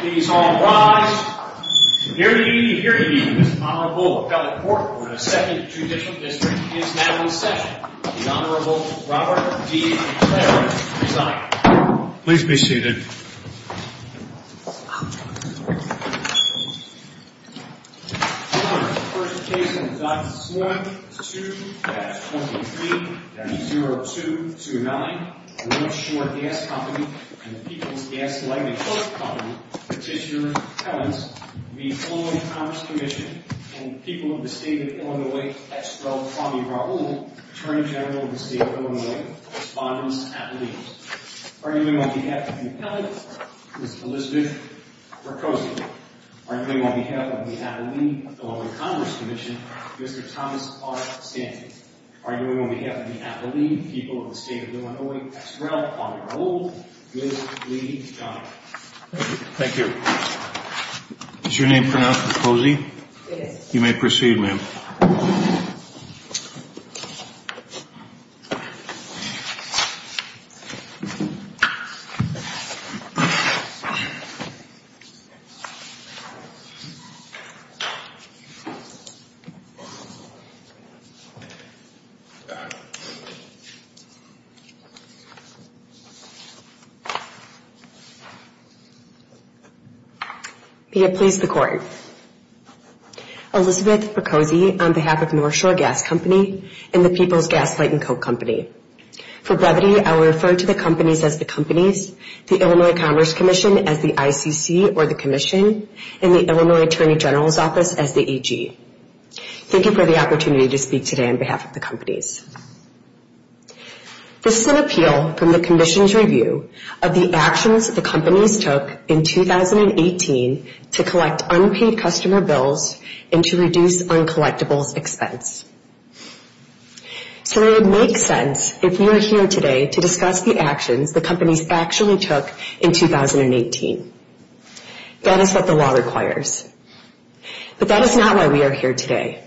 Please all rise. Hear ye, hear ye. This Honorable Appellate Court for the 2nd Judicial District is now in session. The Honorable Robert D. McClaren resigned. Please be seated. The first case on the dot is 1-2-23-0229. The North Shore Gas Company and the People's Gas Lighting Company, Petitioner's Appellants, v. Illinois Commerce Comm'n, and the People of the State of Illinois, Ex Rel. Kwame Rahul, Attorney General of the State of Illinois, Respondents at Lease. Arguing on behalf of the Appellate, Ms. Elizabeth Mercosi. Arguing on behalf of the Appellate, Illinois Commerce Comm'n, Mr. Thomas R. Stanton. Arguing on behalf of the Appellate, People of the State of Illinois, Ex Rel. Kwame Rahul, Ms. Lee John. Thank you. Is your name pronounced Mercosi? Yes. You may proceed, ma'am. May it please the Court. Elizabeth Mercosi on behalf of North Shore Gas Company and the People's Gas Lighting Co. Company. For brevity, I will refer to the companies as the companies, the Illinois Commerce Commission as the ICC or the Commission, and the Illinois Attorney General's Office as the EG. Thank you for the opportunity to speak today on behalf of the companies. This is an appeal from the Commission's review of the actions the companies took in 2018 to collect unpaid customer bills and to reduce uncollectibles expense. So it would make sense if you are here today to discuss the actions the companies actually took in 2018. That is what the law requires. But that is not why we are here today.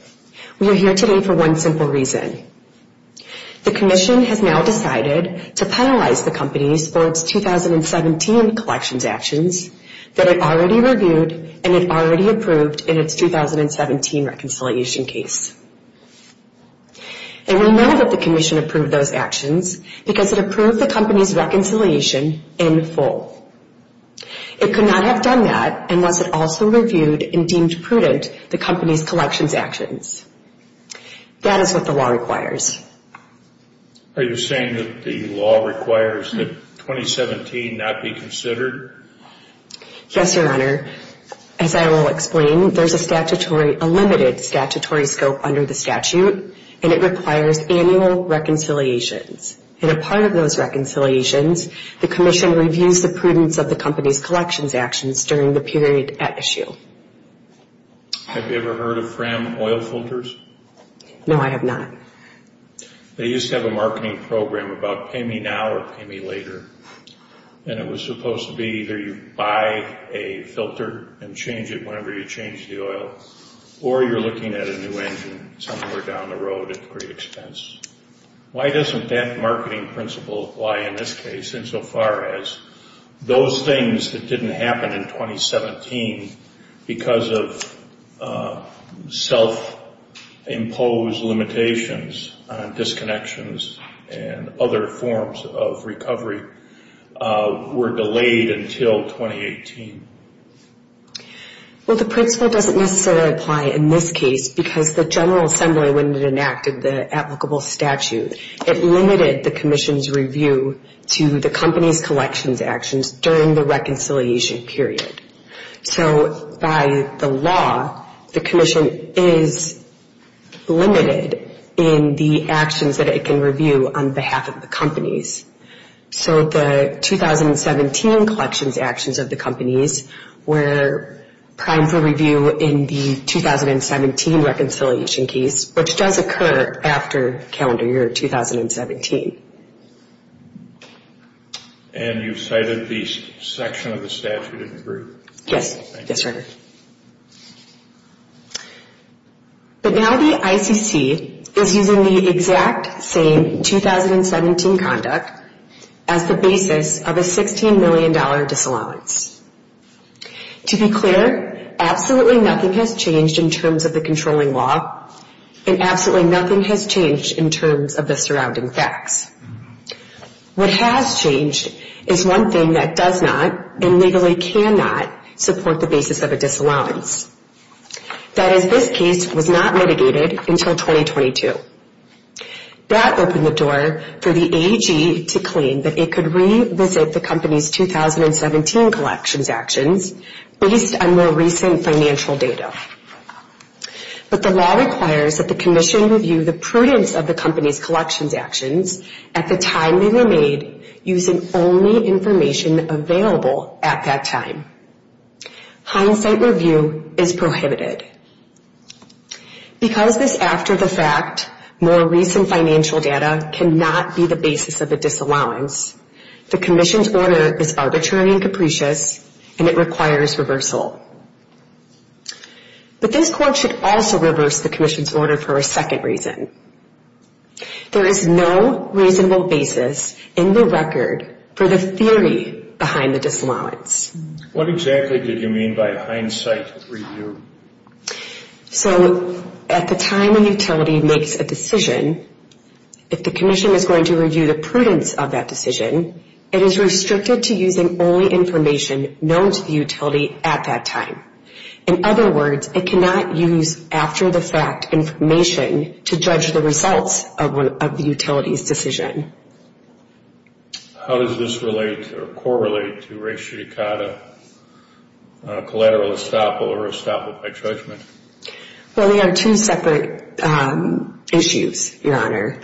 We are here today for one simple reason. The Commission has now decided to penalize the companies for its 2017 collections actions that it already reviewed and it already approved in its 2017 reconciliation case. And we know that the Commission approved those actions because it approved the company's reconciliation in full. It could not have done that unless it also reviewed and deemed prudent the company's collections actions. That is what the law requires. Are you saying that the law requires that 2017 not be considered? Yes, Your Honor. As I will explain, there is a limited statutory scope under the statute and it requires annual reconciliations. And a part of those reconciliations, the Commission reviews the prudence of the company's collections actions during the period at issue. Have you ever heard of Fram Oil Filters? No, I have not. They used to have a marketing program about pay me now or pay me later. And it was supposed to be either you buy a filter and change it whenever you change the oil or you are looking at a new engine somewhere down the road at great expense. Why doesn't that marketing principle apply in this case insofar as those things that didn't happen in 2017 because of self-imposed limitations on disconnections and other forms of recovery were delayed until 2018? Well, the principle doesn't necessarily apply in this case because the General Assembly, when it enacted the applicable statute, it limited the Commission's review to the company's collections actions during the reconciliation period. So by the law, the Commission is limited in the actions that it can review on behalf of the companies. So the 2017 collections actions of the companies were primed for review in the 2017 reconciliation case, which does occur after calendar year 2017. And you cited the section of the statute in the group? Yes, sir. But now the ICC is using the exact same 2017 conduct as the basis of a $16 million disallowance. To be clear, absolutely nothing has changed in terms of the controlling law and absolutely nothing has changed in terms of the surrounding facts. What has changed is one thing that does not and legally cannot support the basis of a disallowance. That is, this case was not mitigated until 2022. That opened the door for the AG to claim that it could revisit the company's 2017 collections actions based on more recent financial data. But the law requires that the Commission review the prudence of the company's collections actions at the time they were made using only information available at that time. Hindsight review is prohibited. Because this after-the-fact, more recent financial data cannot be the basis of a disallowance, the Commission's order is arbitrary and capricious and it requires reversal. But this Court should also reverse the Commission's order for a second reason. There is no reasonable basis in the record for the theory behind the disallowance. What exactly did you mean by hindsight review? So, at the time a utility makes a decision, if the Commission is going to review the prudence of that decision, it is restricted to using only information known to the utility at that time. In other words, it cannot use after-the-fact information to judge the results of the utility's decision. How does this relate or correlate to res judicata, collateral estoppel, or estoppel by judgment? Well, they are two separate issues, Your Honor.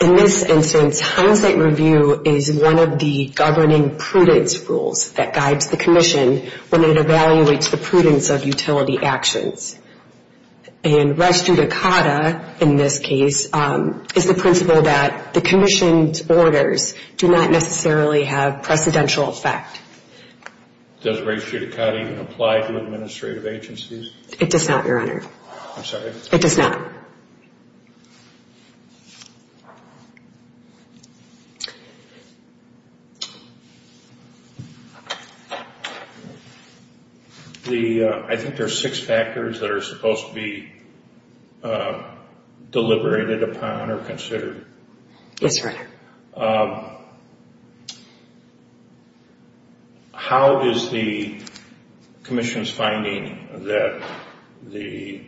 In this instance, hindsight review is one of the governing prudence rules that guides the Commission when it evaluates the prudence of utility actions. And res judicata, in this case, is the principle that the Commission's orders do not necessarily have precedential effect. Does res judicata even apply to administrative agencies? It does not, Your Honor. I'm sorry? It does not. I think there are six factors that are supposed to be deliberated upon or considered. Yes, Your Honor. How is the Commission's finding that the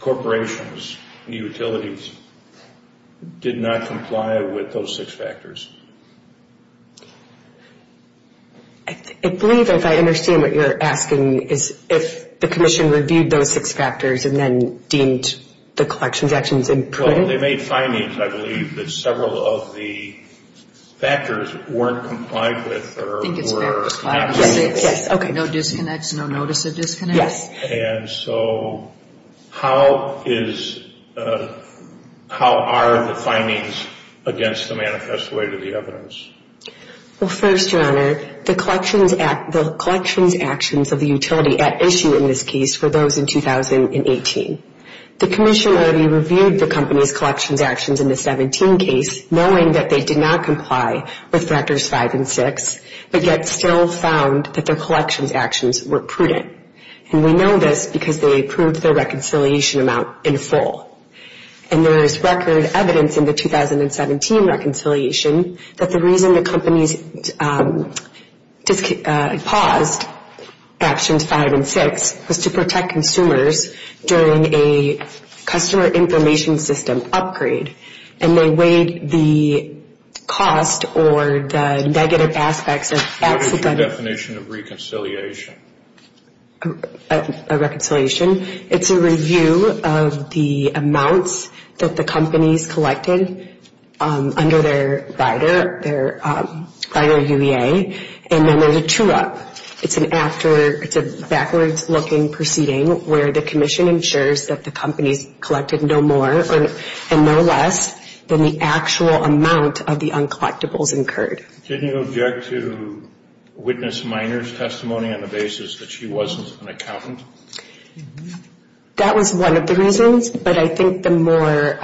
Corporation's utilities did not comply with those six factors? I believe, if I understand what you're asking, is if the Commission reviewed those six factors and then deemed the collections actions inappropriate? Well, they made findings, I believe, that several of the factors weren't complied with. I think it's fair to say, yes, okay, no disconnects, no notice of disconnects. Yes. And so how are the findings against the manifest way to the evidence? Well, first, Your Honor, the collections actions of the utility at issue in this case were those in 2018. The Commission already reviewed the company's collections actions in the 2017 case, knowing that they did not comply with factors 5 and 6, but yet still found that their collections actions were prudent. And we know this because they approved their reconciliation amount in full. And there is record evidence in the 2017 reconciliation that the reason the companies paused actions 5 and 6 was to protect consumers during a customer information system upgrade. And they weighed the cost or the negative aspects of accident. What is the definition of reconciliation? A reconciliation, it's a review of the amounts that the companies collected under their rider, their rider UEA, and then there's a true-up. It's an after, it's a backwards-looking proceeding where the Commission ensures that the companies collected no more and no less than the actual amount of the uncollectibles incurred. Didn't you object to witness Miner's testimony on the basis that she wasn't an accountant? That was one of the reasons, but I think the more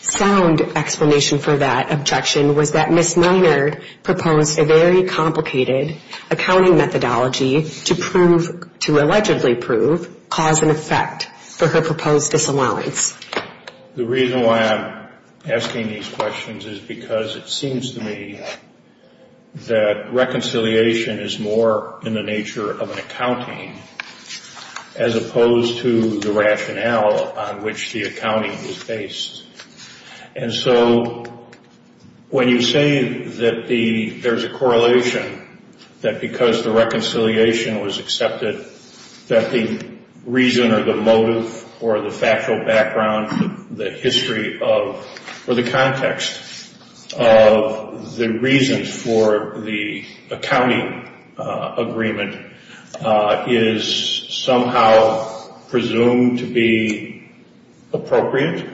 sound explanation for that objection was that it was a complicated accounting methodology to prove, to allegedly prove, cause and effect for her proposed disallowance. The reason why I'm asking these questions is because it seems to me that reconciliation is more in the nature of an accounting as opposed to the rationale on which the accounting is based. And so when you say that there's a correlation, that because the reconciliation was accepted, that the reason or the motive or the factual background, the history of, or the context of the reasons for the accounting agreement is somehow presumed to be appropriate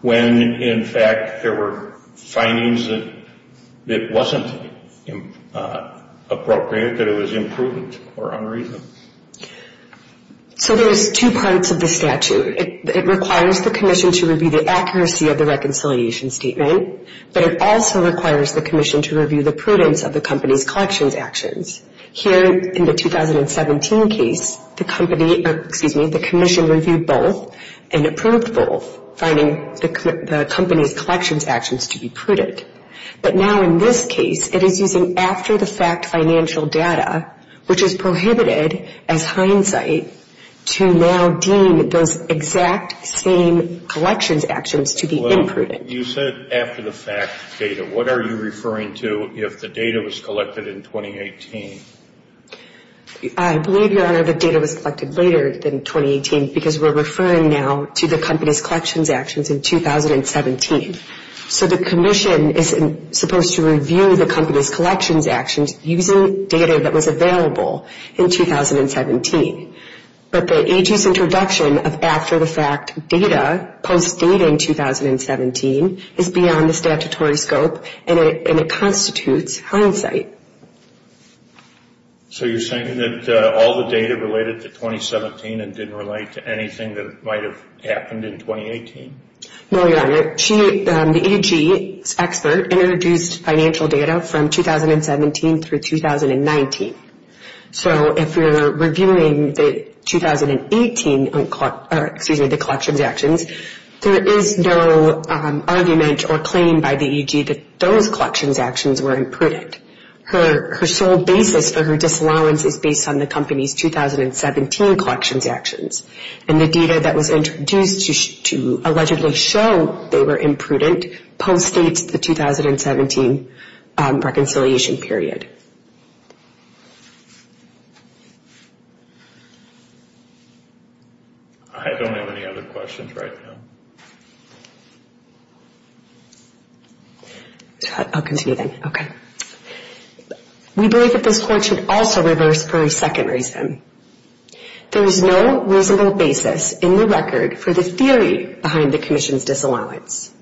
when in fact there were findings that it wasn't appropriate, that it was imprudent or unreasonable. So there's two parts of the statute. It requires the Commission to review the accuracy of the reconciliation statement, but it also requires the Commission to review the prudence of the company's collections actions. Here in the 2017 case, the Commission reviewed both and approved both, finding the company's collections actions to be prudent. But now in this case, it is using after-the-fact financial data, which is prohibited as hindsight, to now deem those exact same collections actions to be imprudent. You said after-the-fact data. What are you referring to if the data was collected in 2018? I believe, Your Honor, the data was collected later than 2018 because we're referring now to the company's collections actions in 2017. So the Commission is supposed to review the company's collections actions using data that was available in 2017. But the AG's introduction of after-the-fact data, post-dating 2017, is beyond the statutory scope and it constitutes hindsight. So you're saying that all the data related to 2017 and didn't relate to anything that might have happened in 2018? No, Your Honor. The AG's expert introduced financial data from 2017 through 2019. So if you're reviewing the 2018 collections actions, there is no argument or claim by the AG that those collections actions were imprudent. Her sole basis for her disallowance is based on the company's 2017 collections actions. And the data that was introduced to allegedly show they were imprudent post-dates the 2017 reconciliation period. I don't have any other questions right now. I'll continue then. Okay. We believe that this Court should also reverse for a second reason. There is no reasonable basis in the record for the theory behind the Commission's disallowance.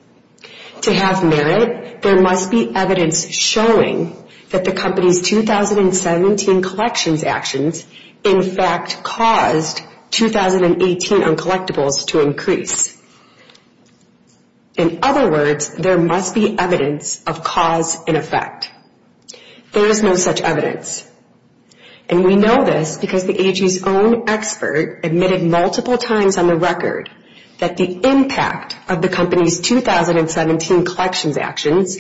To have merit, there must be evidence showing that the company's 2017 collections actions in fact caused 2018 uncollectibles to increase. In other words, there must be evidence of cause and effect. There is no such evidence. And we know this because the AG's own expert admitted multiple times on the record that the impact of the company's 2017 collections actions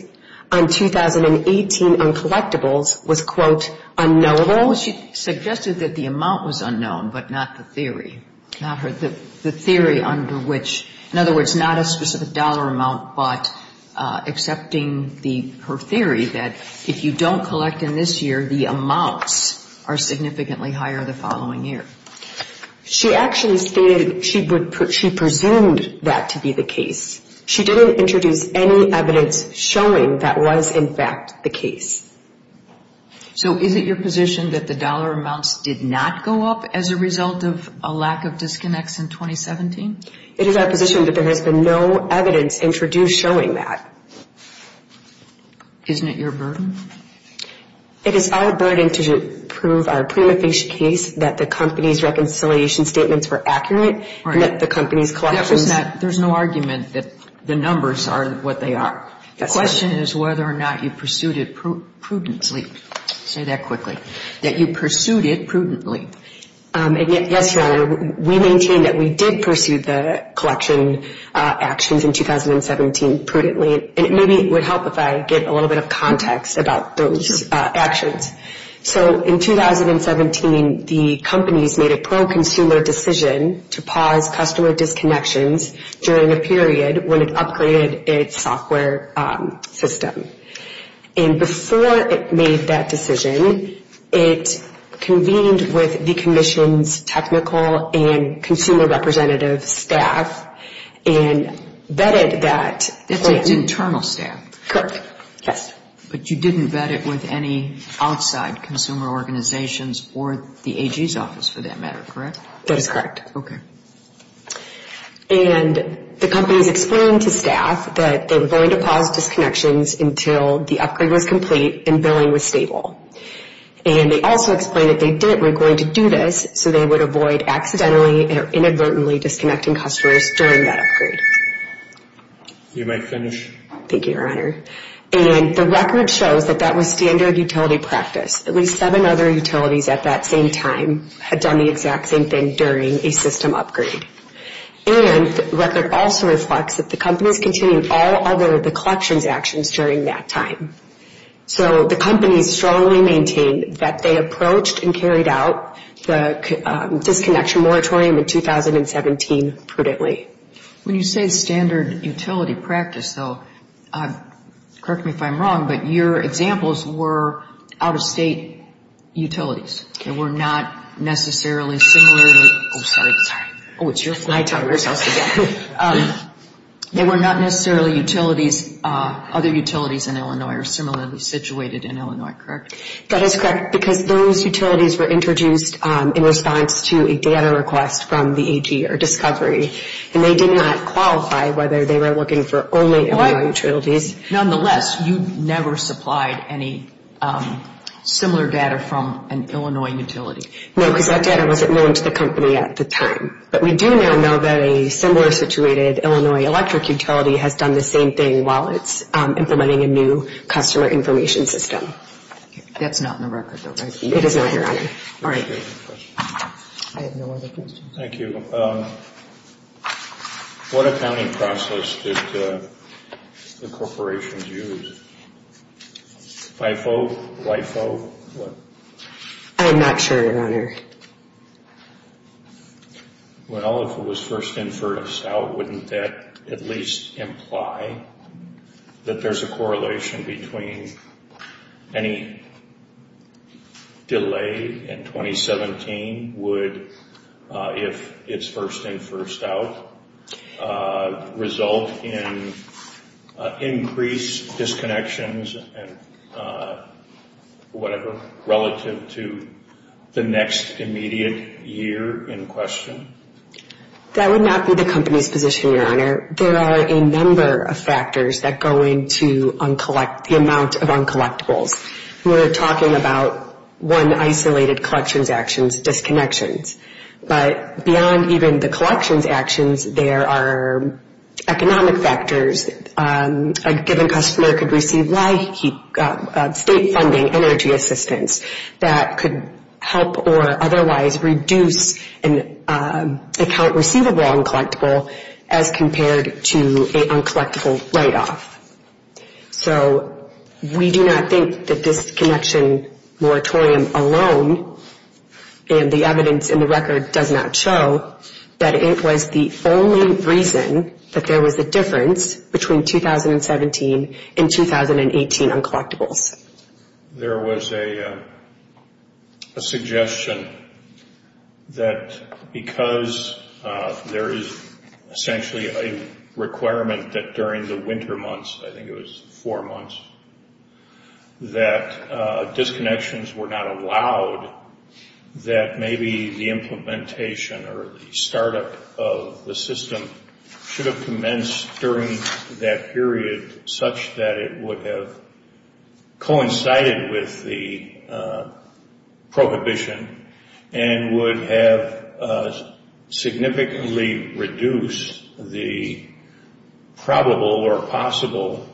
on 2018 uncollectibles was, quote, unknowable. Well, she suggested that the amount was unknown, but not the theory. Not the theory under which, in other words, not a specific dollar amount, but accepting her theory that if you don't collect in this year, the amounts are significantly higher the following year. She actually stated she presumed that to be the case. She didn't introduce any evidence showing that was in fact the case. So is it your position that the dollar amounts did not go up as a result of a lack of disconnects in 2017? It is our position that there has been no evidence introduced showing that. Isn't it your burden? It is our burden to prove our prima facie case that the company's reconciliation statements were accurate and that the company's collections... There's no argument that the numbers are what they are. The question is whether or not you pursued it prudently. Say that quickly. That you pursued it prudently. Yes, Your Honor. We maintain that we did pursue the collection actions in 2017 prudently. And maybe it would help if I give a little bit of context about those actions. So in 2017, the companies made a pro-consumer decision to pause customer disconnections during a period when it upgraded its software system. And before it made that decision, it convened with the Commission's technical and consumer representative staff and vetted that... It's its internal staff. Correct. Yes. But you didn't vet it with any outside consumer organizations or the AG's office for that matter, correct? That is correct. Okay. And the companies explained to staff that they were going to pause disconnections until the upgrade was complete and billing was stable. And they also explained that they were going to do this so they would avoid accidentally or inadvertently disconnecting customers during that upgrade. You may finish. Thank you, Your Honor. And the record shows that that was standard utility practice. At least seven other utilities at that same time had done the exact same thing during a system upgrade. And the record also reflects that the companies continued all other collections actions during that time. So the companies strongly maintain that they approached and carried out the disconnection moratorium in 2017 prudently. When you say standard utility practice, though, correct me if I'm wrong, but your examples were out-of-state utilities. They were not necessarily similarly... Oh, sorry. Sorry. Oh, it's your fault. I tell myself that. They were not necessarily utilities, other utilities in Illinois are similarly situated in Illinois, correct? That is correct because those utilities were introduced in response to a data request from the AG or discovery. And they did not qualify whether they were looking for only Illinois utilities. Nonetheless, you never supplied any similar data from an Illinois utility. No, because that data wasn't known to the company at the time. But we do now know that a similar situated Illinois electric utility has done the same thing while it's implementing a new customer information system. That's not in the record, though, right? It is not, Your Honor. I have no other questions. Thank you. What accounting process did the corporations use? FIFO? LIFO? I'm not sure, Your Honor. Well, if it was first-in-first-out, wouldn't that at least imply that there's a correlation between any delay in 2017 would, if it's first-in-first-out, result in increased disconnections and whatever relative to the next immediate year in question? That would not be the company's position, Your Honor. There are a number of factors that go into the amount of uncollectibles. We're talking about, one, isolated collections actions, disconnections. But beyond even the collections actions, there are economic factors. A given customer could receive state funding, energy assistance, that could help or otherwise reduce an account receivable uncollectible as compared to an uncollectible write-off. So we do not think that this connection moratorium alone, and the evidence in the record does not show, that it was the only reason that there was a difference between 2017 and 2018 uncollectibles. There was a suggestion that because there is essentially a requirement that during the winter months, I think it was four months, that disconnections were not allowed, that maybe the implementation or the startup of the system should have commenced during that period such that it would have coincided with the prohibition and would have significantly reduced the probable or possible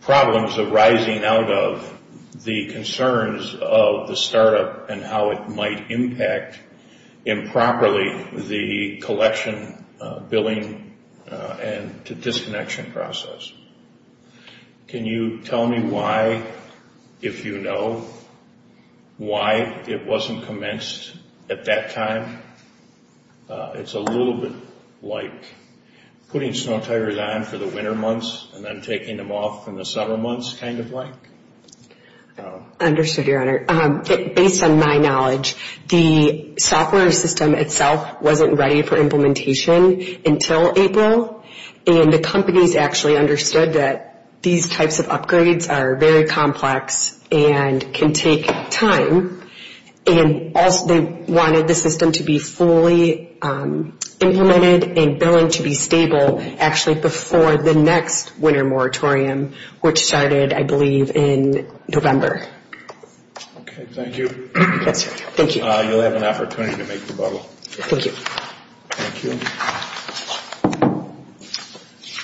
problems arising out of the concerns of the startup and how it might impact improperly the collection billing and the disconnection process. Can you tell me why, if you know, why it wasn't commenced at that time? It's a little bit like putting snow tires on for the winter months and then taking them off in the summer months, kind of like. Understood, Your Honor. Based on my knowledge, the software system itself wasn't ready for implementation until April and the companies actually understood that these types of upgrades are very complex and can take time. And also they wanted the system to be fully implemented and billing to be stable actually before the next winter moratorium, which started, I believe, in November. Okay, thank you. Yes, sir. Thank you. You'll have an opportunity to make your bubble. Thank you. Thank you.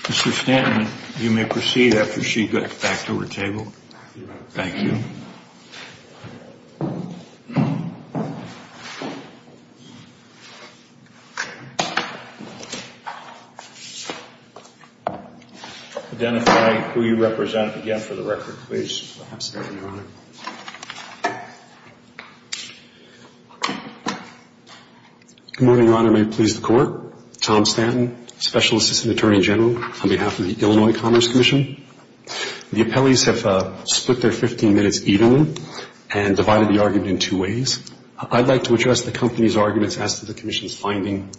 Mr. Stanton, you may proceed after she gets back to her table. Thank you. Identify who you represent again for the record, please. Absolutely, Your Honor. Good morning, Your Honor. May it please the Court. Tom Stanton, Special Assistant Attorney General on behalf of the Illinois Commerce Commission. The appellees have split their 15-minute session. and divided the argument in two ways. I'd like to address the company's arguments as to the Commission's finding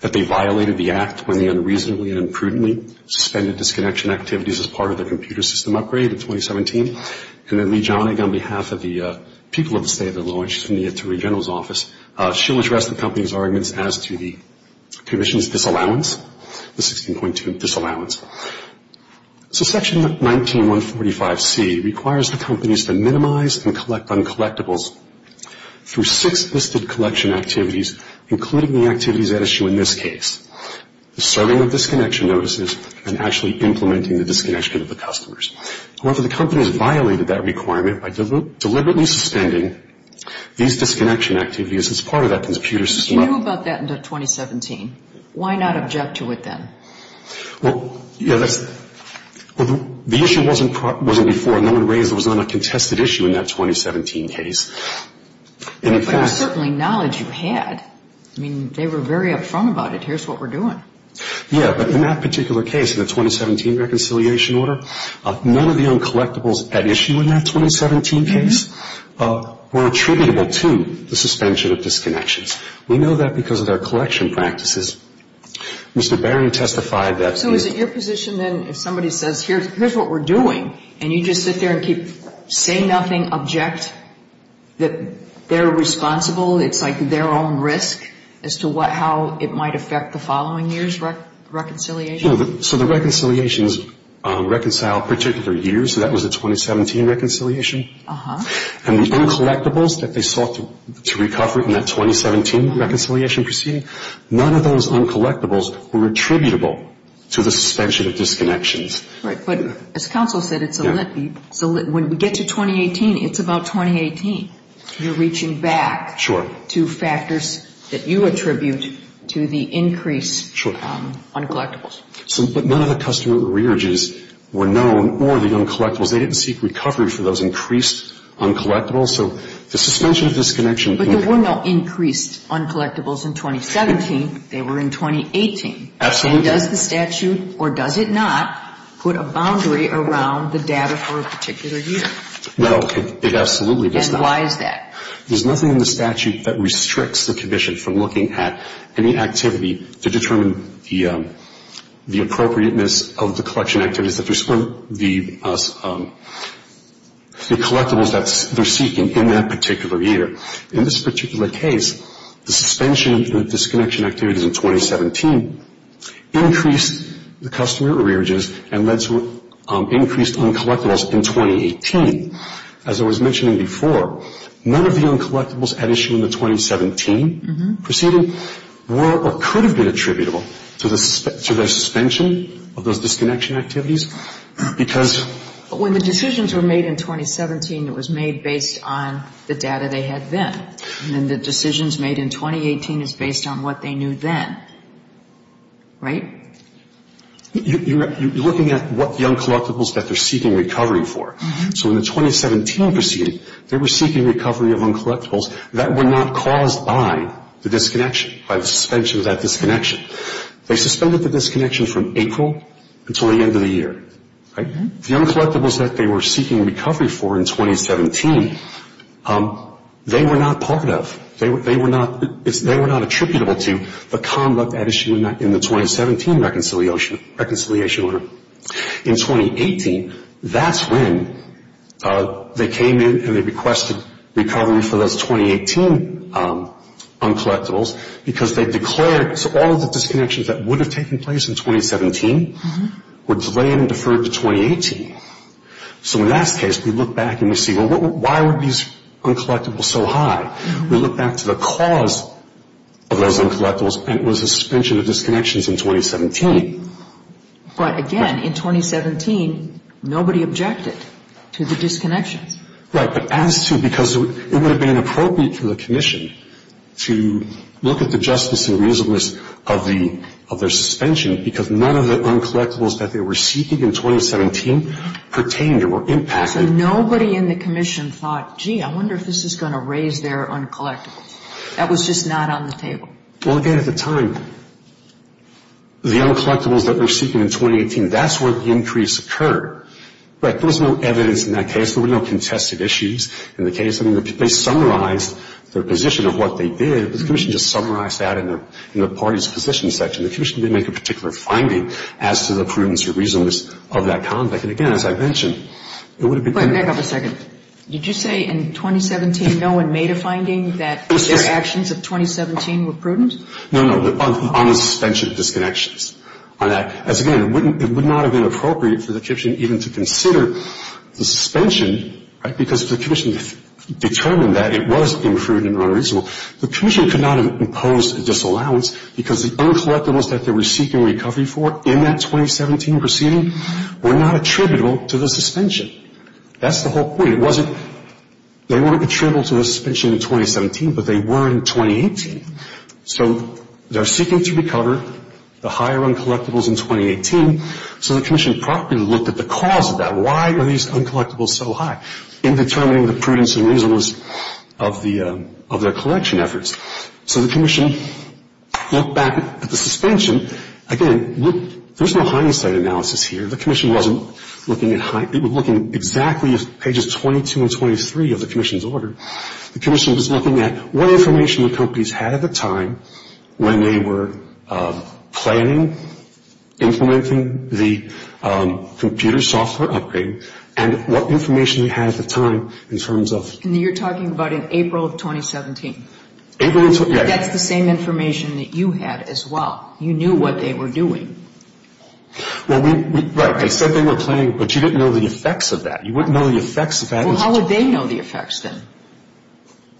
that they violated the Act when they unreasonably and imprudently suspended disconnection activities as part of the computer system upgrade in 2017. And then Lee Jonig, on behalf of the people of the State of Illinois, she's from the Attorney General's Office, she'll address the company's arguments as to the Commission's disallowance, the 16.2 disallowance. So Section 19-145C requires the companies to minimize and collect uncollectibles through six listed collection activities, including the activities at issue in this case, the serving of disconnection notices and actually implementing the disconnection of the customers. However, the companies violated that requirement by deliberately suspending these disconnection activities as part of that computer system upgrade. You knew about that in 2017. Why not object to it then? Well, you know, the issue wasn't before and no one raised it was not a contested issue in that 2017 case. But it was certainly knowledge you had. I mean, they were very upfront about it. Here's what we're doing. Yeah, but in that particular case, in the 2017 reconciliation order, none of the uncollectibles at issue in that 2017 case were attributable to the suspension of disconnections. We know that because of their collection practices. Mr. Barron testified that... So is it your position then if somebody says, here's what we're doing, and you just sit there and keep saying nothing, object, that they're responsible, it's like their own risk as to how it might affect the following year's reconciliation? So the reconciliations reconcile particular years, so that was the 2017 reconciliation. And the uncollectibles that they sought to recover in that 2017 reconciliation proceeding, none of those uncollectibles were attributable to the suspension of disconnections. Right. But as counsel said, when we get to 2018, it's about 2018. You're reaching back to factors that you attribute to the increased uncollectibles. But none of the customer rearages were known or the uncollectibles. They didn't seek recovery for those increased uncollectibles. So the suspension of disconnections... But there were no increased uncollectibles in 2017. They were in 2018. Absolutely. And does the statute, or does it not, put a boundary around the data for a particular year? No, it absolutely does not. And why is that? There's nothing in the statute that restricts the commission from looking at any activity to determine the appropriateness of the collection activities, the collectibles that they're seeking in that particular year. In this particular case, the suspension of the disconnection activities in 2017 increased the customer rearages and led to increased uncollectibles in 2018. As I was mentioning before, none of the uncollectibles at issue in the 2017 proceeding were or could have been attributable to their suspension of those disconnection activities because... When the decisions were made in 2017, it was made based on the data they had then. And then the decisions made in 2018 is based on what they knew then. Right? You're looking at what the uncollectibles that they're seeking recovery for. So in the 2017 proceeding, they were seeking recovery of uncollectibles that were not caused by the disconnection, by the suspension of that disconnection. They suspended the disconnection from April until the end of the year. Right? The uncollectibles that they were seeking recovery for in 2017, they were not part of. They were not attributable to the conduct at issue in the 2017 reconciliation order. In 2018, that's when they came in and they requested recovery for those 2018 uncollectibles because they declared... So all of the disconnections that would have taken place in 2017 were delayed and deferred to 2018. So in that case, we look back and we see, well, why were these uncollectibles so high? We look back to the cause of those uncollectibles, and it was the suspension of disconnections in 2017. But again, in 2017, nobody objected to the disconnections. Right. But as to because it would have been inappropriate for the commission to look at the justice and reasonableness of their suspension, because none of the uncollectibles that they were seeking in 2017 pertained or were impacted. So nobody in the commission thought, gee, I wonder if this is going to raise their uncollectibles. That was just not on the table. Well, again, at the time, the uncollectibles that they were seeking in 2018, that's where the increase occurred. But there was no evidence in that case. There were no contested issues in the case. I mean, they summarized their position of what they did, but the commission just summarized that in the party's position section. The commission didn't make a particular finding as to the prudence or reasonableness of that conduct. And again, as I mentioned, it would have been... Wait, hang on a second. Did you say in 2017 no one made a finding that their actions of 2017 were prudent? No, no, on the suspension of disconnections. Again, it would not have been appropriate for the commission even to consider the suspension, right, because the commission determined that it was imprudent and unreasonable. The commission could not have imposed a disallowance because the uncollectibles that they were seeking recovery for in that 2017 proceeding were not attributable to the suspension. That's the whole point. It wasn't... They weren't attributable to the suspension in 2017, but they were in 2018. So they're seeking to recover the higher uncollectibles in 2018, so the commission properly looked at the cause of that. Why were these uncollectibles so high in determining the prudence and reasonableness of their collection efforts? So the commission looked back at the suspension. Again, there's no hindsight analysis here. The commission wasn't looking at... They were looking at exactly pages 22 and 23 of the commission's order. The commission was looking at what information the companies had at the time when they were planning, implementing the computer software upgrade, and what information they had at the time in terms of... And you're talking about in April of 2017? April of... That's the same information that you had as well. You knew what they were doing. Well, we... Right. I said they were planning, but you didn't know the effects of that. You wouldn't know the effects of that. Well, how would they know the effects then?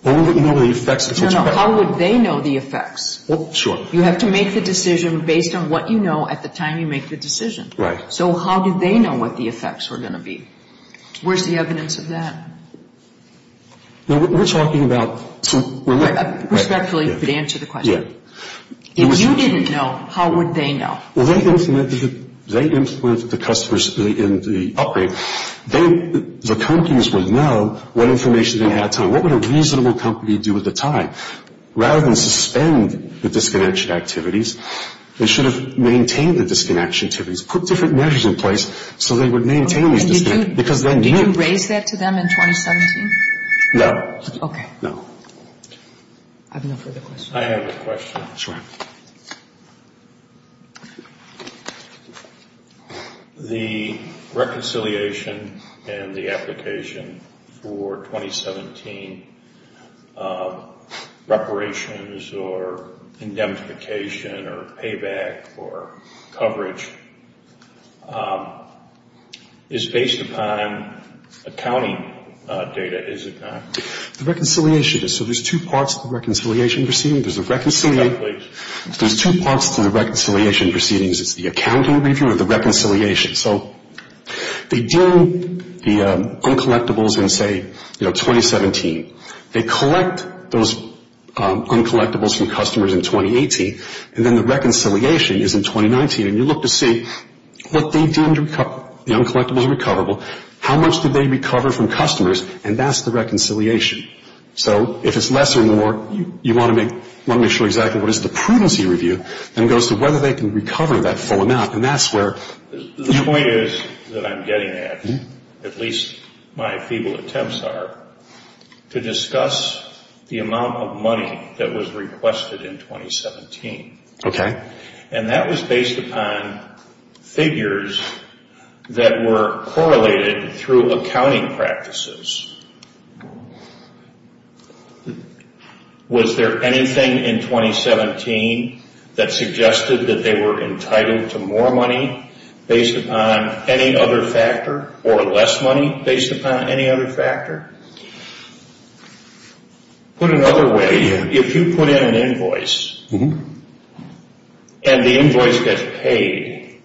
Well, we wouldn't know the effects... No, no. How would they know the effects? Well, sure. You have to make the decision based on what you know at the time you make the decision. Right. So how did they know what the effects were going to be? Where's the evidence of that? We're talking about... Respectfully, but answer the question. If you didn't know, how would they know? Well, they implemented the customers in the upgrade. The companies would know what information they had at the time. What would a reasonable company do at the time? Rather than suspend the disconnection activities, they should have maintained the disconnection activities, put different measures in place so they would maintain these disconnections because they knew. Did you raise that to them in 2017? No. Okay. I have no further questions. I have a question. Sure. The reconciliation and the application for 2017 reparations or indemnification or payback or coverage is based upon accounting data, is it not? The reconciliation is. So there's two parts to the reconciliation proceedings. There's a reconciliation... There's two parts to the reconciliation proceedings. It's the accounting review or the reconciliation. So they do the uncollectibles in, say, 2017. They collect those uncollectibles from customers in 2018. And then the reconciliation is in 2019. And you look to see what they did to recover. The uncollectibles are recoverable. How much did they recover from customers? And that's the reconciliation. So if it's less or more, you want to make sure exactly what is the prudency review, then it goes to whether they can recover that full amount. And that's where... The point is that I'm getting at, at least my feeble attempts are, to discuss the amount of money that was requested in 2017. Okay. And that was based upon figures that were correlated through accounting practices. Was there anything in 2017 that suggested that they were entitled to more money based upon any other factor or less money based upon any other factor? Put another way, if you put in an invoice and the invoice gets paid,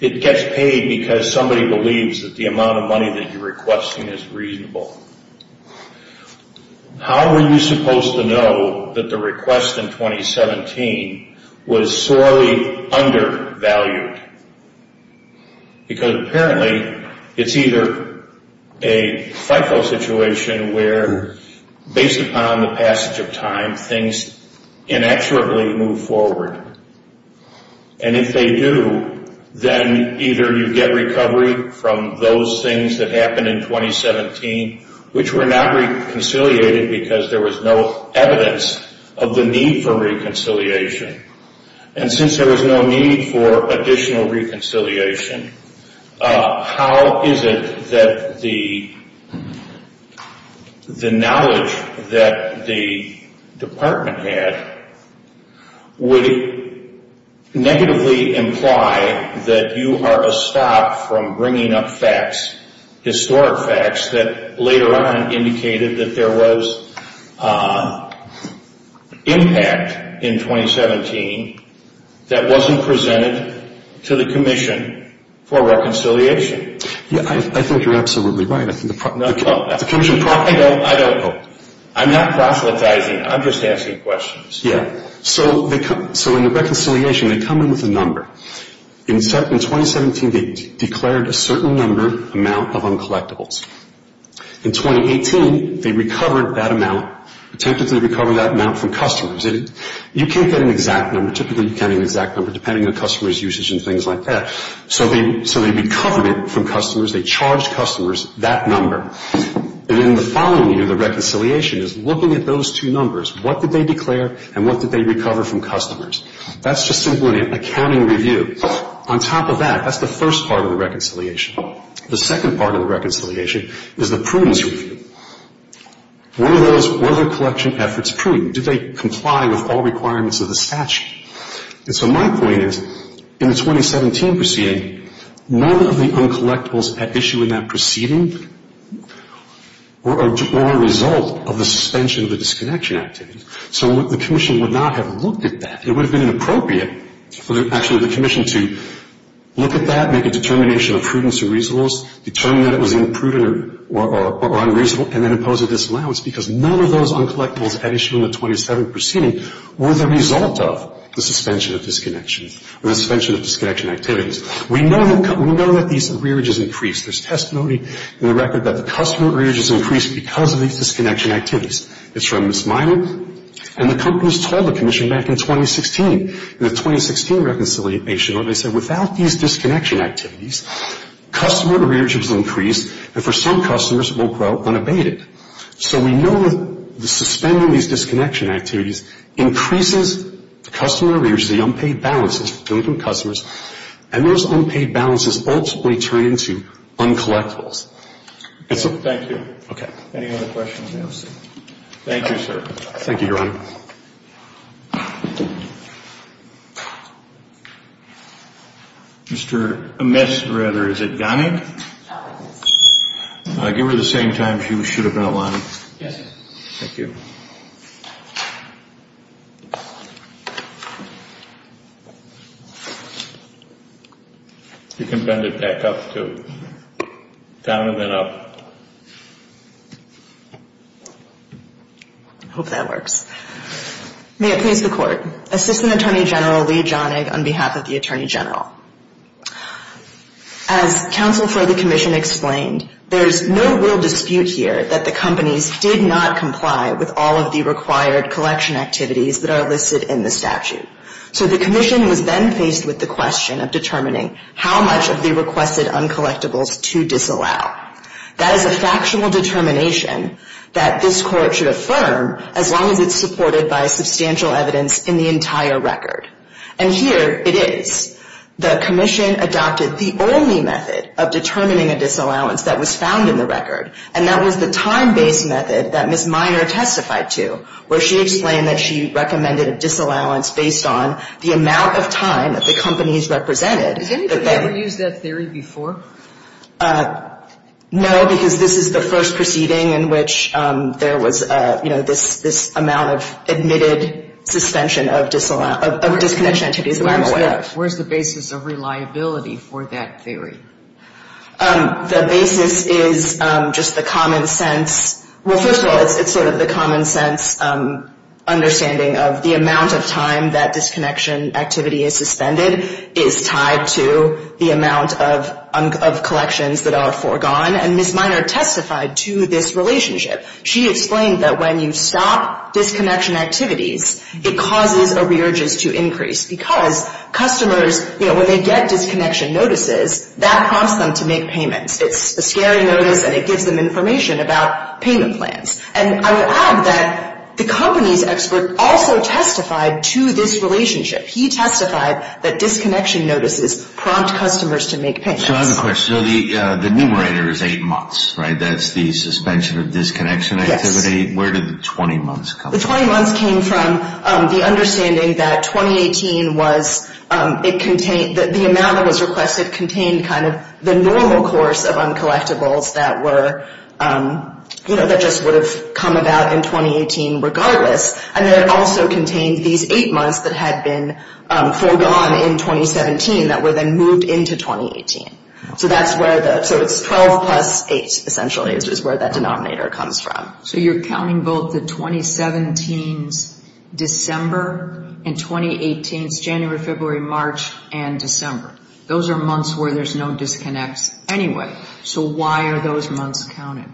it gets paid because somebody believes that the amount of money that you're requesting is reasonable. How were you supposed to know that the request in 2017 was sorely undervalued? Because apparently, it's either a FIFO situation where based upon the passage of time, things inaccurately move forward. And if they do, then either you get recovery from those things that happened in 2017 which were not reconciliated because there was no evidence of the need for reconciliation. And since there was no need for additional reconciliation, how is it that the knowledge that the department had would negatively imply that you are a stop from bringing up facts, historic facts, that later on indicated that there was impact in 2017 that wasn't presented to the commission for reconciliation? I think you're absolutely right. I don't know. I'm not proselytizing. I'm just asking questions. Yeah. So in the reconciliation, they come in with a number. In 2017, they declared a certain number amount of uncollectibles. In 2018, they recovered that amount, attempted to recover that amount from customers. You can't get an exact number. Typically, you can't get an exact number depending on customers' usage and things like that. So they recovered it from customers. They charged customers that number. And then the following year, the reconciliation is looking at those two numbers. What did they declare and what did they recover from customers? That's just simply an accounting review. On top of that, that's the first part of the reconciliation. The second part of the reconciliation is the prudence review. Were their collection efforts prudent? Did they comply with all requirements of the statute? And so my point is, in the 2017 proceeding, none of the uncollectibles at issue in that proceeding were a result of the suspension of the disconnection activities. So the commission would not have looked at that. It would have been inappropriate for actually the commission to look at that, make a determination of prudence or reasonableness, determine that it was imprudent or unreasonable, and then impose a disallowance because none of those uncollectibles at issue in the 2017 proceeding were the result of the suspension of disconnection activities. We know that these rearages increase. There's testimony in the record that the customer rearage has increased because of these disconnection activities. It's from Ms. Miner. And the companies told the commission back in 2016, in the 2016 reconciliation, they said without these disconnection activities, customer rearage has increased and for some customers will grow unabated. So we know that suspending these disconnection activities increases customer rearage, the unpaid balances between customers, and those unpaid balances ultimately turn into uncollectibles. Thank you. Okay. Any other questions? Thank you, sir. Thank you, Your Honor. Mr. Miss, rather, is it Gonnig? Gonnig. Give her the same time she should have been outlining. Yes, sir. Thank you. You can bend it back up to down and then up. I hope that works. May it please the Court. Assistant Attorney General Lee Gonnig on behalf of the Attorney General. As counsel for the commission explained, there's no real dispute here that the companies did not comply with all of the required collection activities that are listed in the statute. So the commission was then faced with the question of determining how much of the requested uncollectibles to disallow. That is a factual determination that this Court should affirm as long as it's supported by substantial evidence in the entire record. And here it is. The commission adopted the only method of determining a disallowance that was found in the record, and that was the time-based method that Ms. Miner testified to, where she explained that she recommended a disallowance based on the amount of time that the companies represented. Has anybody ever used that theory before? No, because this is the first proceeding in which there was, you know, this amount of admitted suspension of disconnection activities. Where's the basis of reliability for that theory? The basis is just the common sense. Well, first of all, it's sort of the common sense understanding of the amount of time that disconnection activity is suspended is tied to the amount of collections that are foregone. And Ms. Miner testified to this relationship. She explained that when you stop disconnection activities, it causes arrearges to increase because customers, you know, when they get disconnection notices, that prompts them to make payments. It's a scary notice, and it gives them information about payment plans. And I will add that the company's expert also testified to this relationship. He testified that disconnection notices prompt customers to make payments. So I have a question. So the numerator is eight months, right? That's the suspension of disconnection activity. Where did the 20 months come from? The 20 months came from the understanding that 2018 was, it contained, that the amount that was requested contained kind of the normal course of uncollectibles that were, you know, that just would have come about in 2018 regardless. And then it also contained these eight months that had been foregone in 2017 that were then moved into 2018. So that's where the, so it's 12 plus eight, essentially, which is where that denominator comes from. So you're counting both the 2017's December and 2018's January, February, March, and December. Those are months where there's no disconnects anyway. So why are those months counted?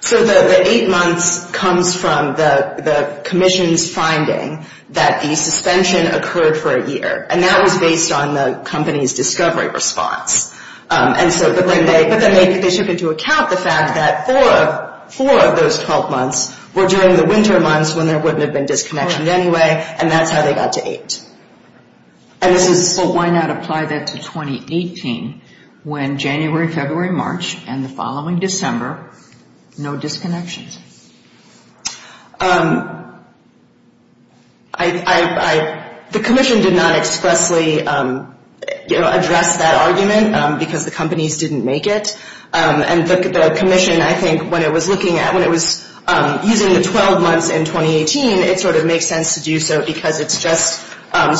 So the eight months comes from the commission's finding that the suspension occurred for a year. And that was based on the company's discovery response. But then they took into account the fact that four of those 12 months were during the winter months when there wouldn't have been disconnection anyway. And that's how they got to eight. Well, why not apply that to 2018 when January, February, March, and the following December, no disconnections? The commission did not expressly address that argument because the companies didn't make it. And the commission, I think, when it was looking at, when it was using the 12 months in 2018, it sort of makes sense to do so because it's just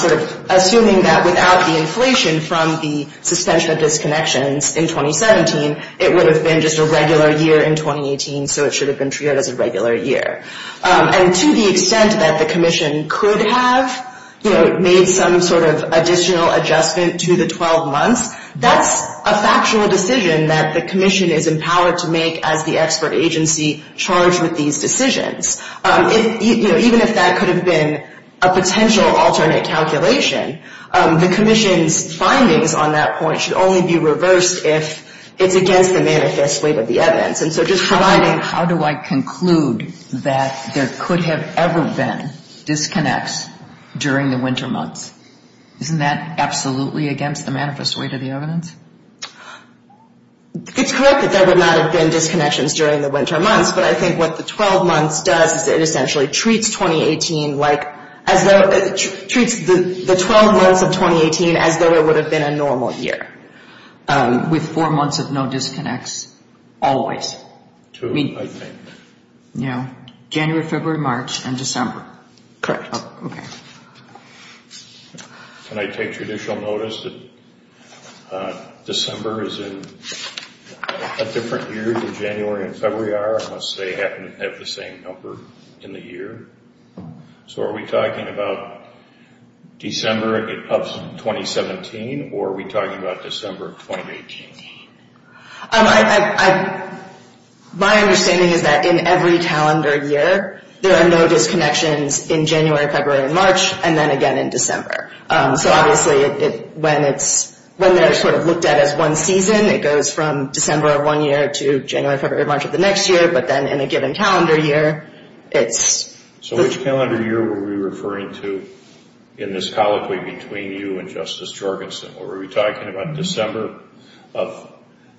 sort of assuming that without the inflation from the suspension of disconnections in 2017, it would have been just a regular year in 2018. So it should have been treated as a regular year. And to the extent that the commission could have made some sort of additional adjustment to the 12 months, that's a factual decision that the commission is empowered to make as the expert agency charged with these decisions. Even if that could have been a potential alternate calculation, the commission's findings on that point should only be reversed if it's against the manifest weight of the evidence. And so just providing... How do I conclude that there could have ever been disconnects during the winter months? Isn't that absolutely against the manifest weight of the evidence? It's correct that there would not have been disconnections during the winter months, but I think what the 12 months does is it essentially treats 2018 like, treats the 12 months of 2018 as though it would have been a normal year. With four months of no disconnects always? Two, I think. Yeah. January, February, March, and December. Correct. Okay. Can I take judicial notice that December is in a different year than January and February are, unless they happen to have the same number in the year? So are we talking about December of 2017, or are we talking about December of 2018? My understanding is that in every calendar year, there are no disconnections in January, February, and March, and then again in December. So obviously when they're sort of looked at as one season, it goes from December of one year to January, February, March of the next year, but then in a given calendar year, it's... So which calendar year were we referring to in this colloquy between you and Justice Jorgensen? Were we talking about December of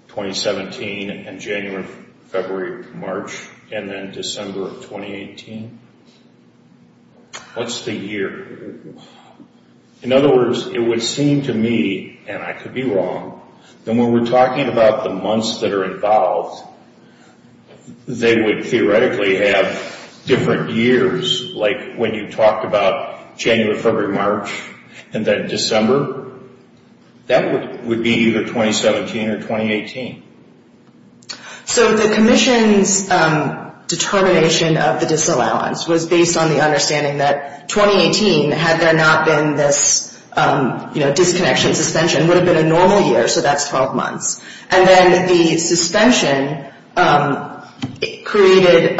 2017 and January, February, March, and then December of 2018? What's the year? In other words, it would seem to me, and I could be wrong, that when we're talking about the months that are involved, they would theoretically have different years, like when you talked about January, February, March, and then December. That would be either 2017 or 2018. So the Commission's determination of the disallowance was based on the understanding that 2018, had there not been this disconnection, suspension, would have been a normal year, so that's 12 months. And then the suspension created...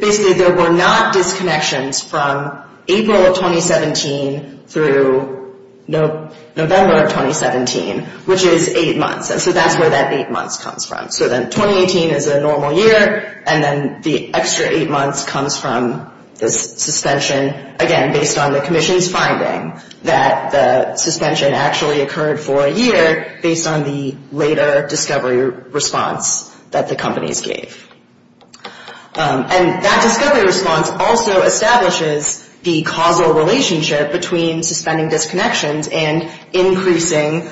Basically, there were not disconnections from April of 2017 through November of 2017, which is 8 months. So that's where that 8 months comes from. So then 2018 is a normal year, and then the extra 8 months comes from this suspension, again, based on the Commission's finding that the suspension actually occurred for a year based on the later discovery response that the companies gave. And that discovery response also establishes the causal relationship between suspending disconnections and increasing...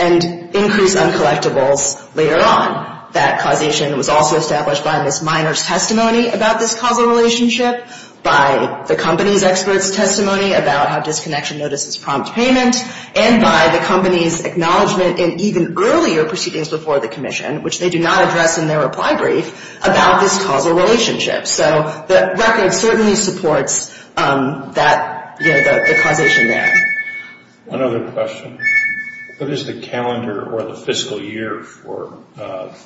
and increased uncollectibles later on. That causation was also established by Ms. Miner's testimony about this causal relationship, by the company's experts' testimony about how disconnection notices prompt payment, and by the company's acknowledgement in even earlier proceedings before the Commission, which they do not address in their reply brief, about this causal relationship. So the record certainly supports the causation there. One other question. What is the calendar or the fiscal year for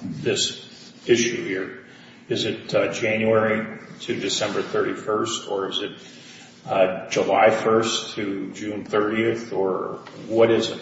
this issue here? Is it January to December 31st, or is it July 1st to June 30th, or what is it?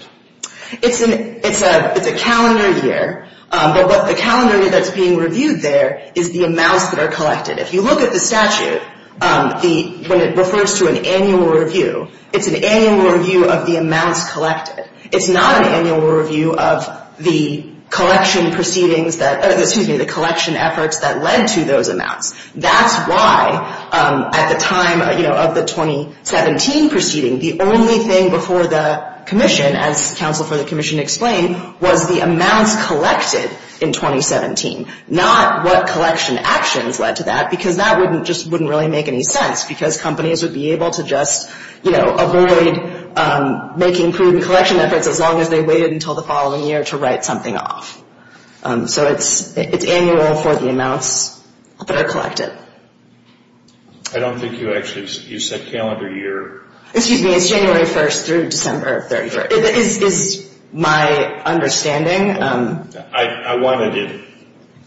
It's a calendar year, but the calendar year that's being reviewed there is the amounts that are collected. If you look at the statute, when it refers to an annual review, it's an annual review of the amounts collected. It's not an annual review of the collection proceedings that... excuse me, the collection efforts that led to those amounts. That's why, at the time of the 2017 proceeding, the only thing before the Commission, as counsel for the Commission explained, was the amounts collected in 2017, not what collection actions led to that, because that just wouldn't really make any sense, because companies would be able to just, you know, avoid making prudent collection efforts as long as they waited until the following year to write something off. So it's annual for the amounts that are collected. I don't think you actually... you said calendar year. Excuse me, it's January 1st through December 31st, is my understanding. I wanted to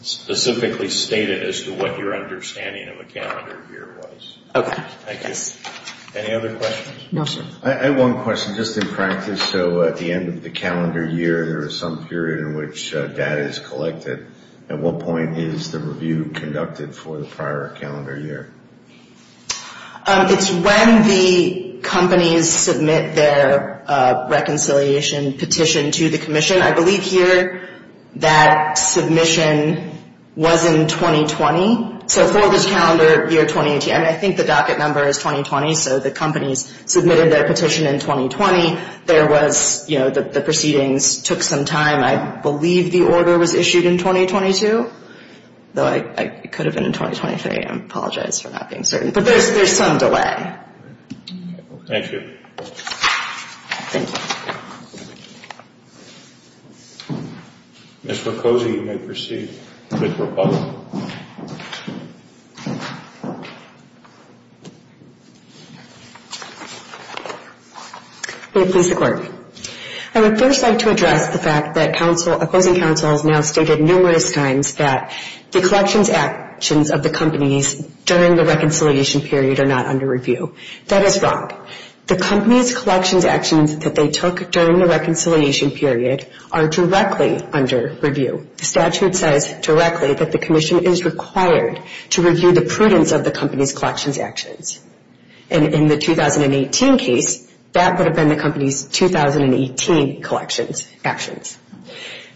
specifically state it as to what your understanding of a calendar year was. Okay. Thank you. Any other questions? No, sir. I have one question. Just in practice, so at the end of the calendar year, there is some period in which data is collected. At what point is the review conducted for the prior calendar year? It's when the companies submit their reconciliation petition to the Commission. I believe here that submission was in 2020. So for this calendar year 2018, I think the docket number is 2020, so the companies submitted their petition in 2020. There was, you know, the proceedings took some time. I believe the order was issued in 2022, though it could have been in 2023. I apologize for not being certain, but there's some delay. Thank you. Thank you. Ms. Raposo, you may proceed. Ms. Raposo. May it please the Court. I would first like to address the fact that opposing counsels now stated numerous times that the collections actions of the companies during the reconciliation period are not under review. That is wrong. The company's collections actions that they took during the reconciliation period are directly under review. The statute says directly that the Commission is required to review the prudence of the company's collections actions. And in the 2018 case, that would have been the company's 2018 collections actions.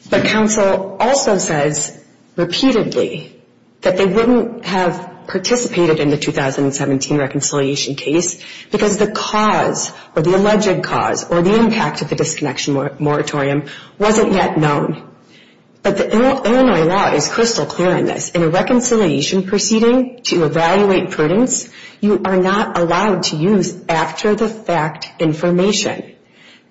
But counsel also says repeatedly that they wouldn't have participated in the 2017 reconciliation case because the cause or the alleged cause or the impact of the disconnection moratorium wasn't yet known. But the Illinois law is crystal clear on this. In a reconciliation proceeding, to evaluate prudence, you are not allowed to use after-the-fact information.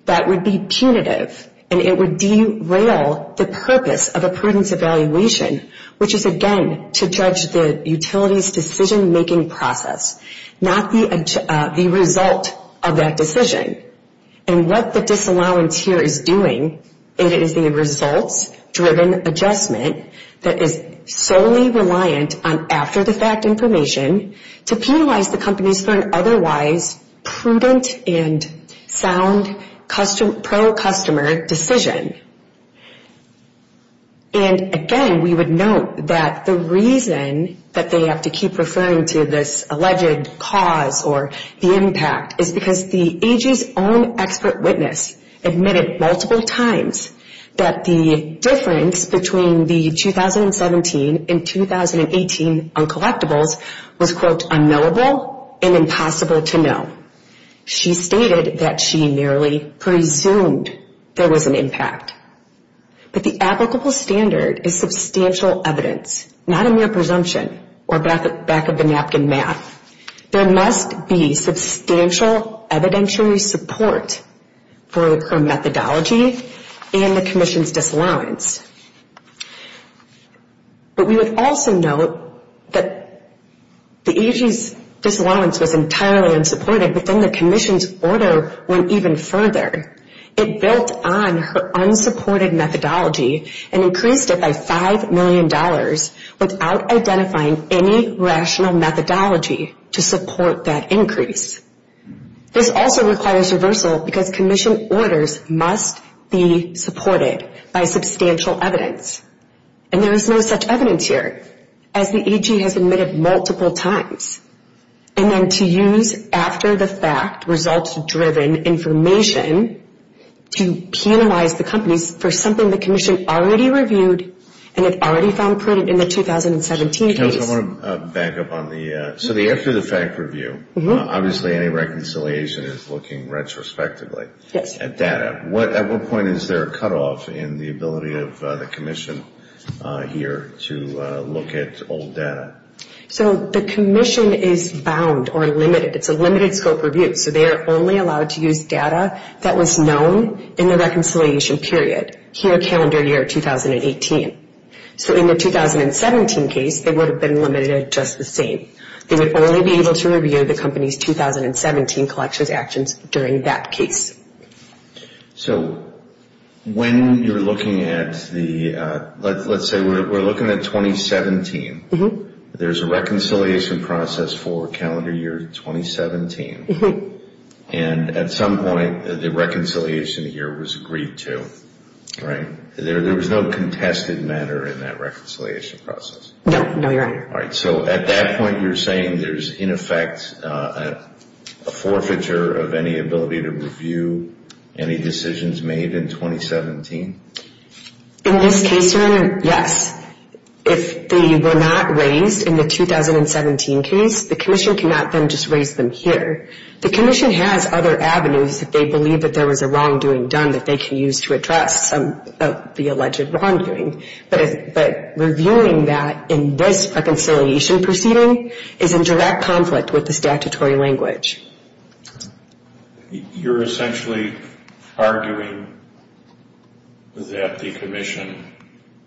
That would be punitive, and it would derail the purpose of a prudence evaluation, which is, again, to judge the utility's decision-making process, not the result of that decision. And what the disallowance here is doing, it is the results-driven adjustment that is solely reliant on after-the-fact information to penalize the companies for an otherwise prudent and sound pro-customer decision. And again, we would note that the reason that they have to keep referring to this alleged cause or the impact is because the AG's own expert witness admitted multiple times that the difference between the 2017 and 2018 uncollectibles was, quote, unknowable and impossible to know. She stated that she merely presumed there was an impact. But the applicable standard is substantial evidence, not a mere presumption or back-of-the-napkin math. There must be substantial evidentiary support for her methodology and the Commission's disallowance. But we would also note that the AG's disallowance was entirely unsupported, but then the Commission's order went even further. It built on her unsupported methodology and increased it by $5 million without identifying any rational methodology to support that increase. This also requires reversal because Commission orders must be supported by substantial evidence. And there is no such evidence here, as the AG has admitted multiple times. And then to use after-the-fact, results-driven information to penalize the companies for something the Commission already reviewed and had already found prudent in the 2017 case. I want to back up on the after-the-fact review. Obviously, any reconciliation is looking retrospectively at data. At what point is there a cutoff in the ability of the Commission here to look at old data? So the Commission is bound or limited. It's a limited-scope review, so they are only allowed to use data that was known in the reconciliation period, here calendar year 2018. So in the 2017 case, they would have been limited at just the same. They would only be able to review the company's 2017 collections actions during that case. So when you're looking at the, let's say we're looking at 2017, there's a reconciliation process for calendar year 2017. And at some point, the reconciliation year was agreed to, right? There was no contested matter in that reconciliation process? No, no, Your Honor. All right, so at that point, you're saying there's, in effect, a forfeiture of any ability to review any decisions made in 2017? In this case, Your Honor, yes. If they were not raised in the 2017 case, the Commission cannot then just raise them here. The Commission has other avenues if they believe that there was a wrongdoing done that they can use to address some of the alleged wrongdoing. But reviewing that in this reconciliation proceeding is in direct conflict with the statutory language. You're essentially arguing that the Commission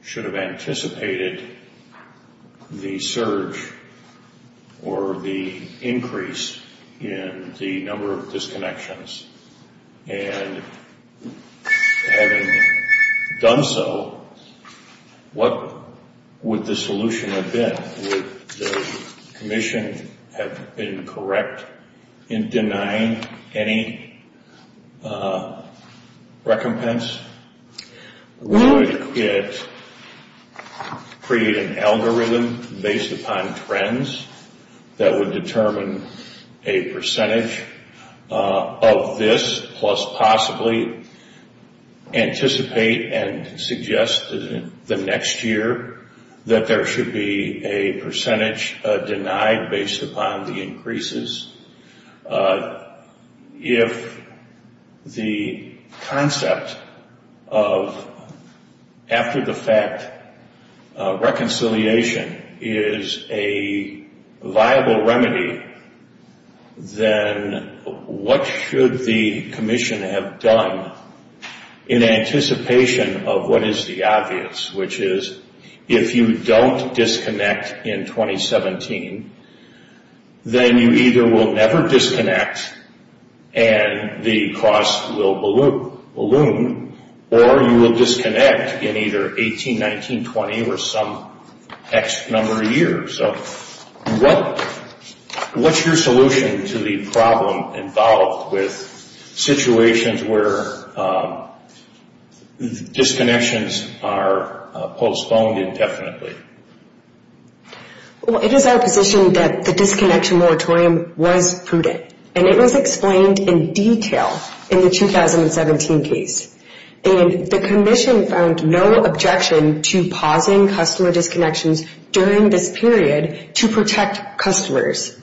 should have anticipated the surge or the increase in the number of disconnections. And having done so, what would the solution have been? Would the Commission have been correct in denying any recompense? Would it create an algorithm based upon trends that would determine a percentage of this plus possibly anticipate and suggest the next year that there should be a percentage denied based upon the increases? If the concept of, after the fact, reconciliation is a viable remedy, then what should the Commission have done in anticipation of what is the obvious, which is if you don't disconnect in 2017, then you either will never disconnect and the cost will balloon, or you will disconnect in either 18, 19, 20, or some X number of years. So what's your solution to the problem involved with situations where disconnections are postponed indefinitely? Well, it is our position that the disconnection moratorium was prudent, and it was explained in detail in the 2017 case. And the Commission found no objection to pausing customer disconnections during this period to protect customers.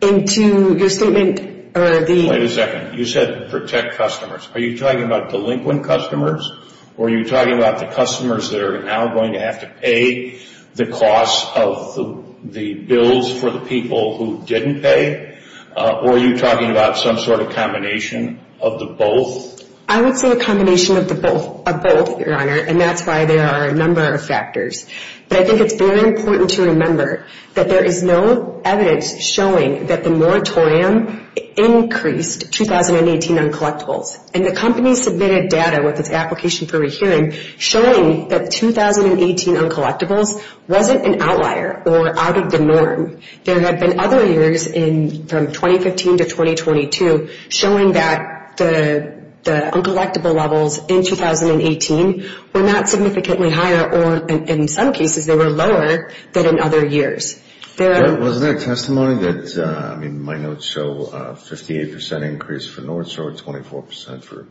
And to your statement, or the... Wait a second. You said protect customers. Are you talking about delinquent customers? Or are you talking about the customers that are now going to have to pay the cost of the bills for the people who didn't pay? Or are you talking about some sort of combination of the both? I would say a combination of both, Your Honor, and that's why there are a number of factors. But I think it's very important to remember that there is no evidence showing that the moratorium increased 2018 uncollectibles. And the company submitted data with its application for rehearing showing that 2018 uncollectibles wasn't an outlier or out of the norm. There have been other years from 2015 to 2022 showing that the uncollectible levels in 2018 were not significantly higher or, in some cases, they were lower than in other years. There are... Wasn't there testimony that, I mean, my notes show a 58% increase for North Shore, 24% for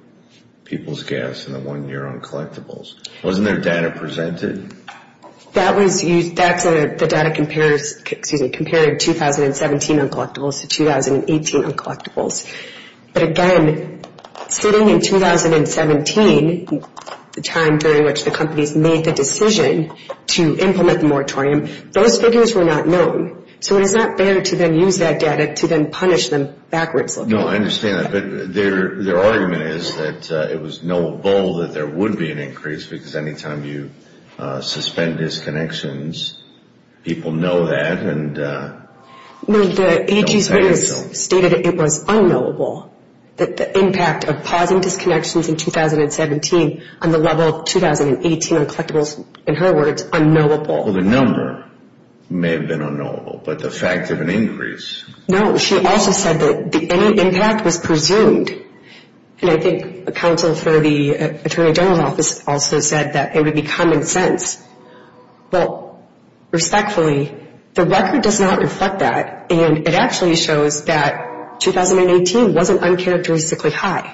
People's Gas in the one-year uncollectibles. Wasn't there data presented? That was used... The data compares, excuse me, But again, sitting in 2017, the time during which the companies made the decision to implement the moratorium, those figures were not known. So it is not fair to then use that data to then punish them backwards looking. No, I understand that. But their argument is that it was knowable that there would be an increase because any time you suspend disconnections, people know that and... No, the AG's witness stated it was unknowable that the impact of pausing disconnections in 2017 on the level of 2018 uncollectibles, in her words, unknowable. Well, the number may have been unknowable, but the fact of an increase... No, she also said that any impact was presumed. And I think a counsel for the Attorney General's Office also said that it would be common sense. Well, respectfully, the record does not reflect that and it actually shows that 2018 wasn't uncharacteristically high.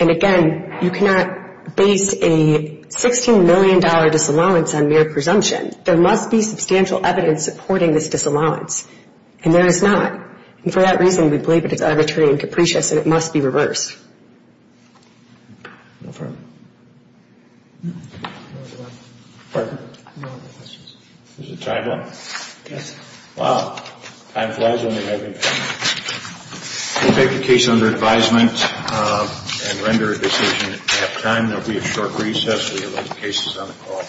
And again, you cannot base a $16 million disallowance on mere presumption. There must be substantial evidence supporting this disallowance. And there is not. And for that reason, we believe it is arbitrary and capricious and it must be reversed. Is the time up? Yes. Time flies when you're having fun. We'll take the case under advisement and render a decision at halftime. There will be a short recess. We have other cases on the call.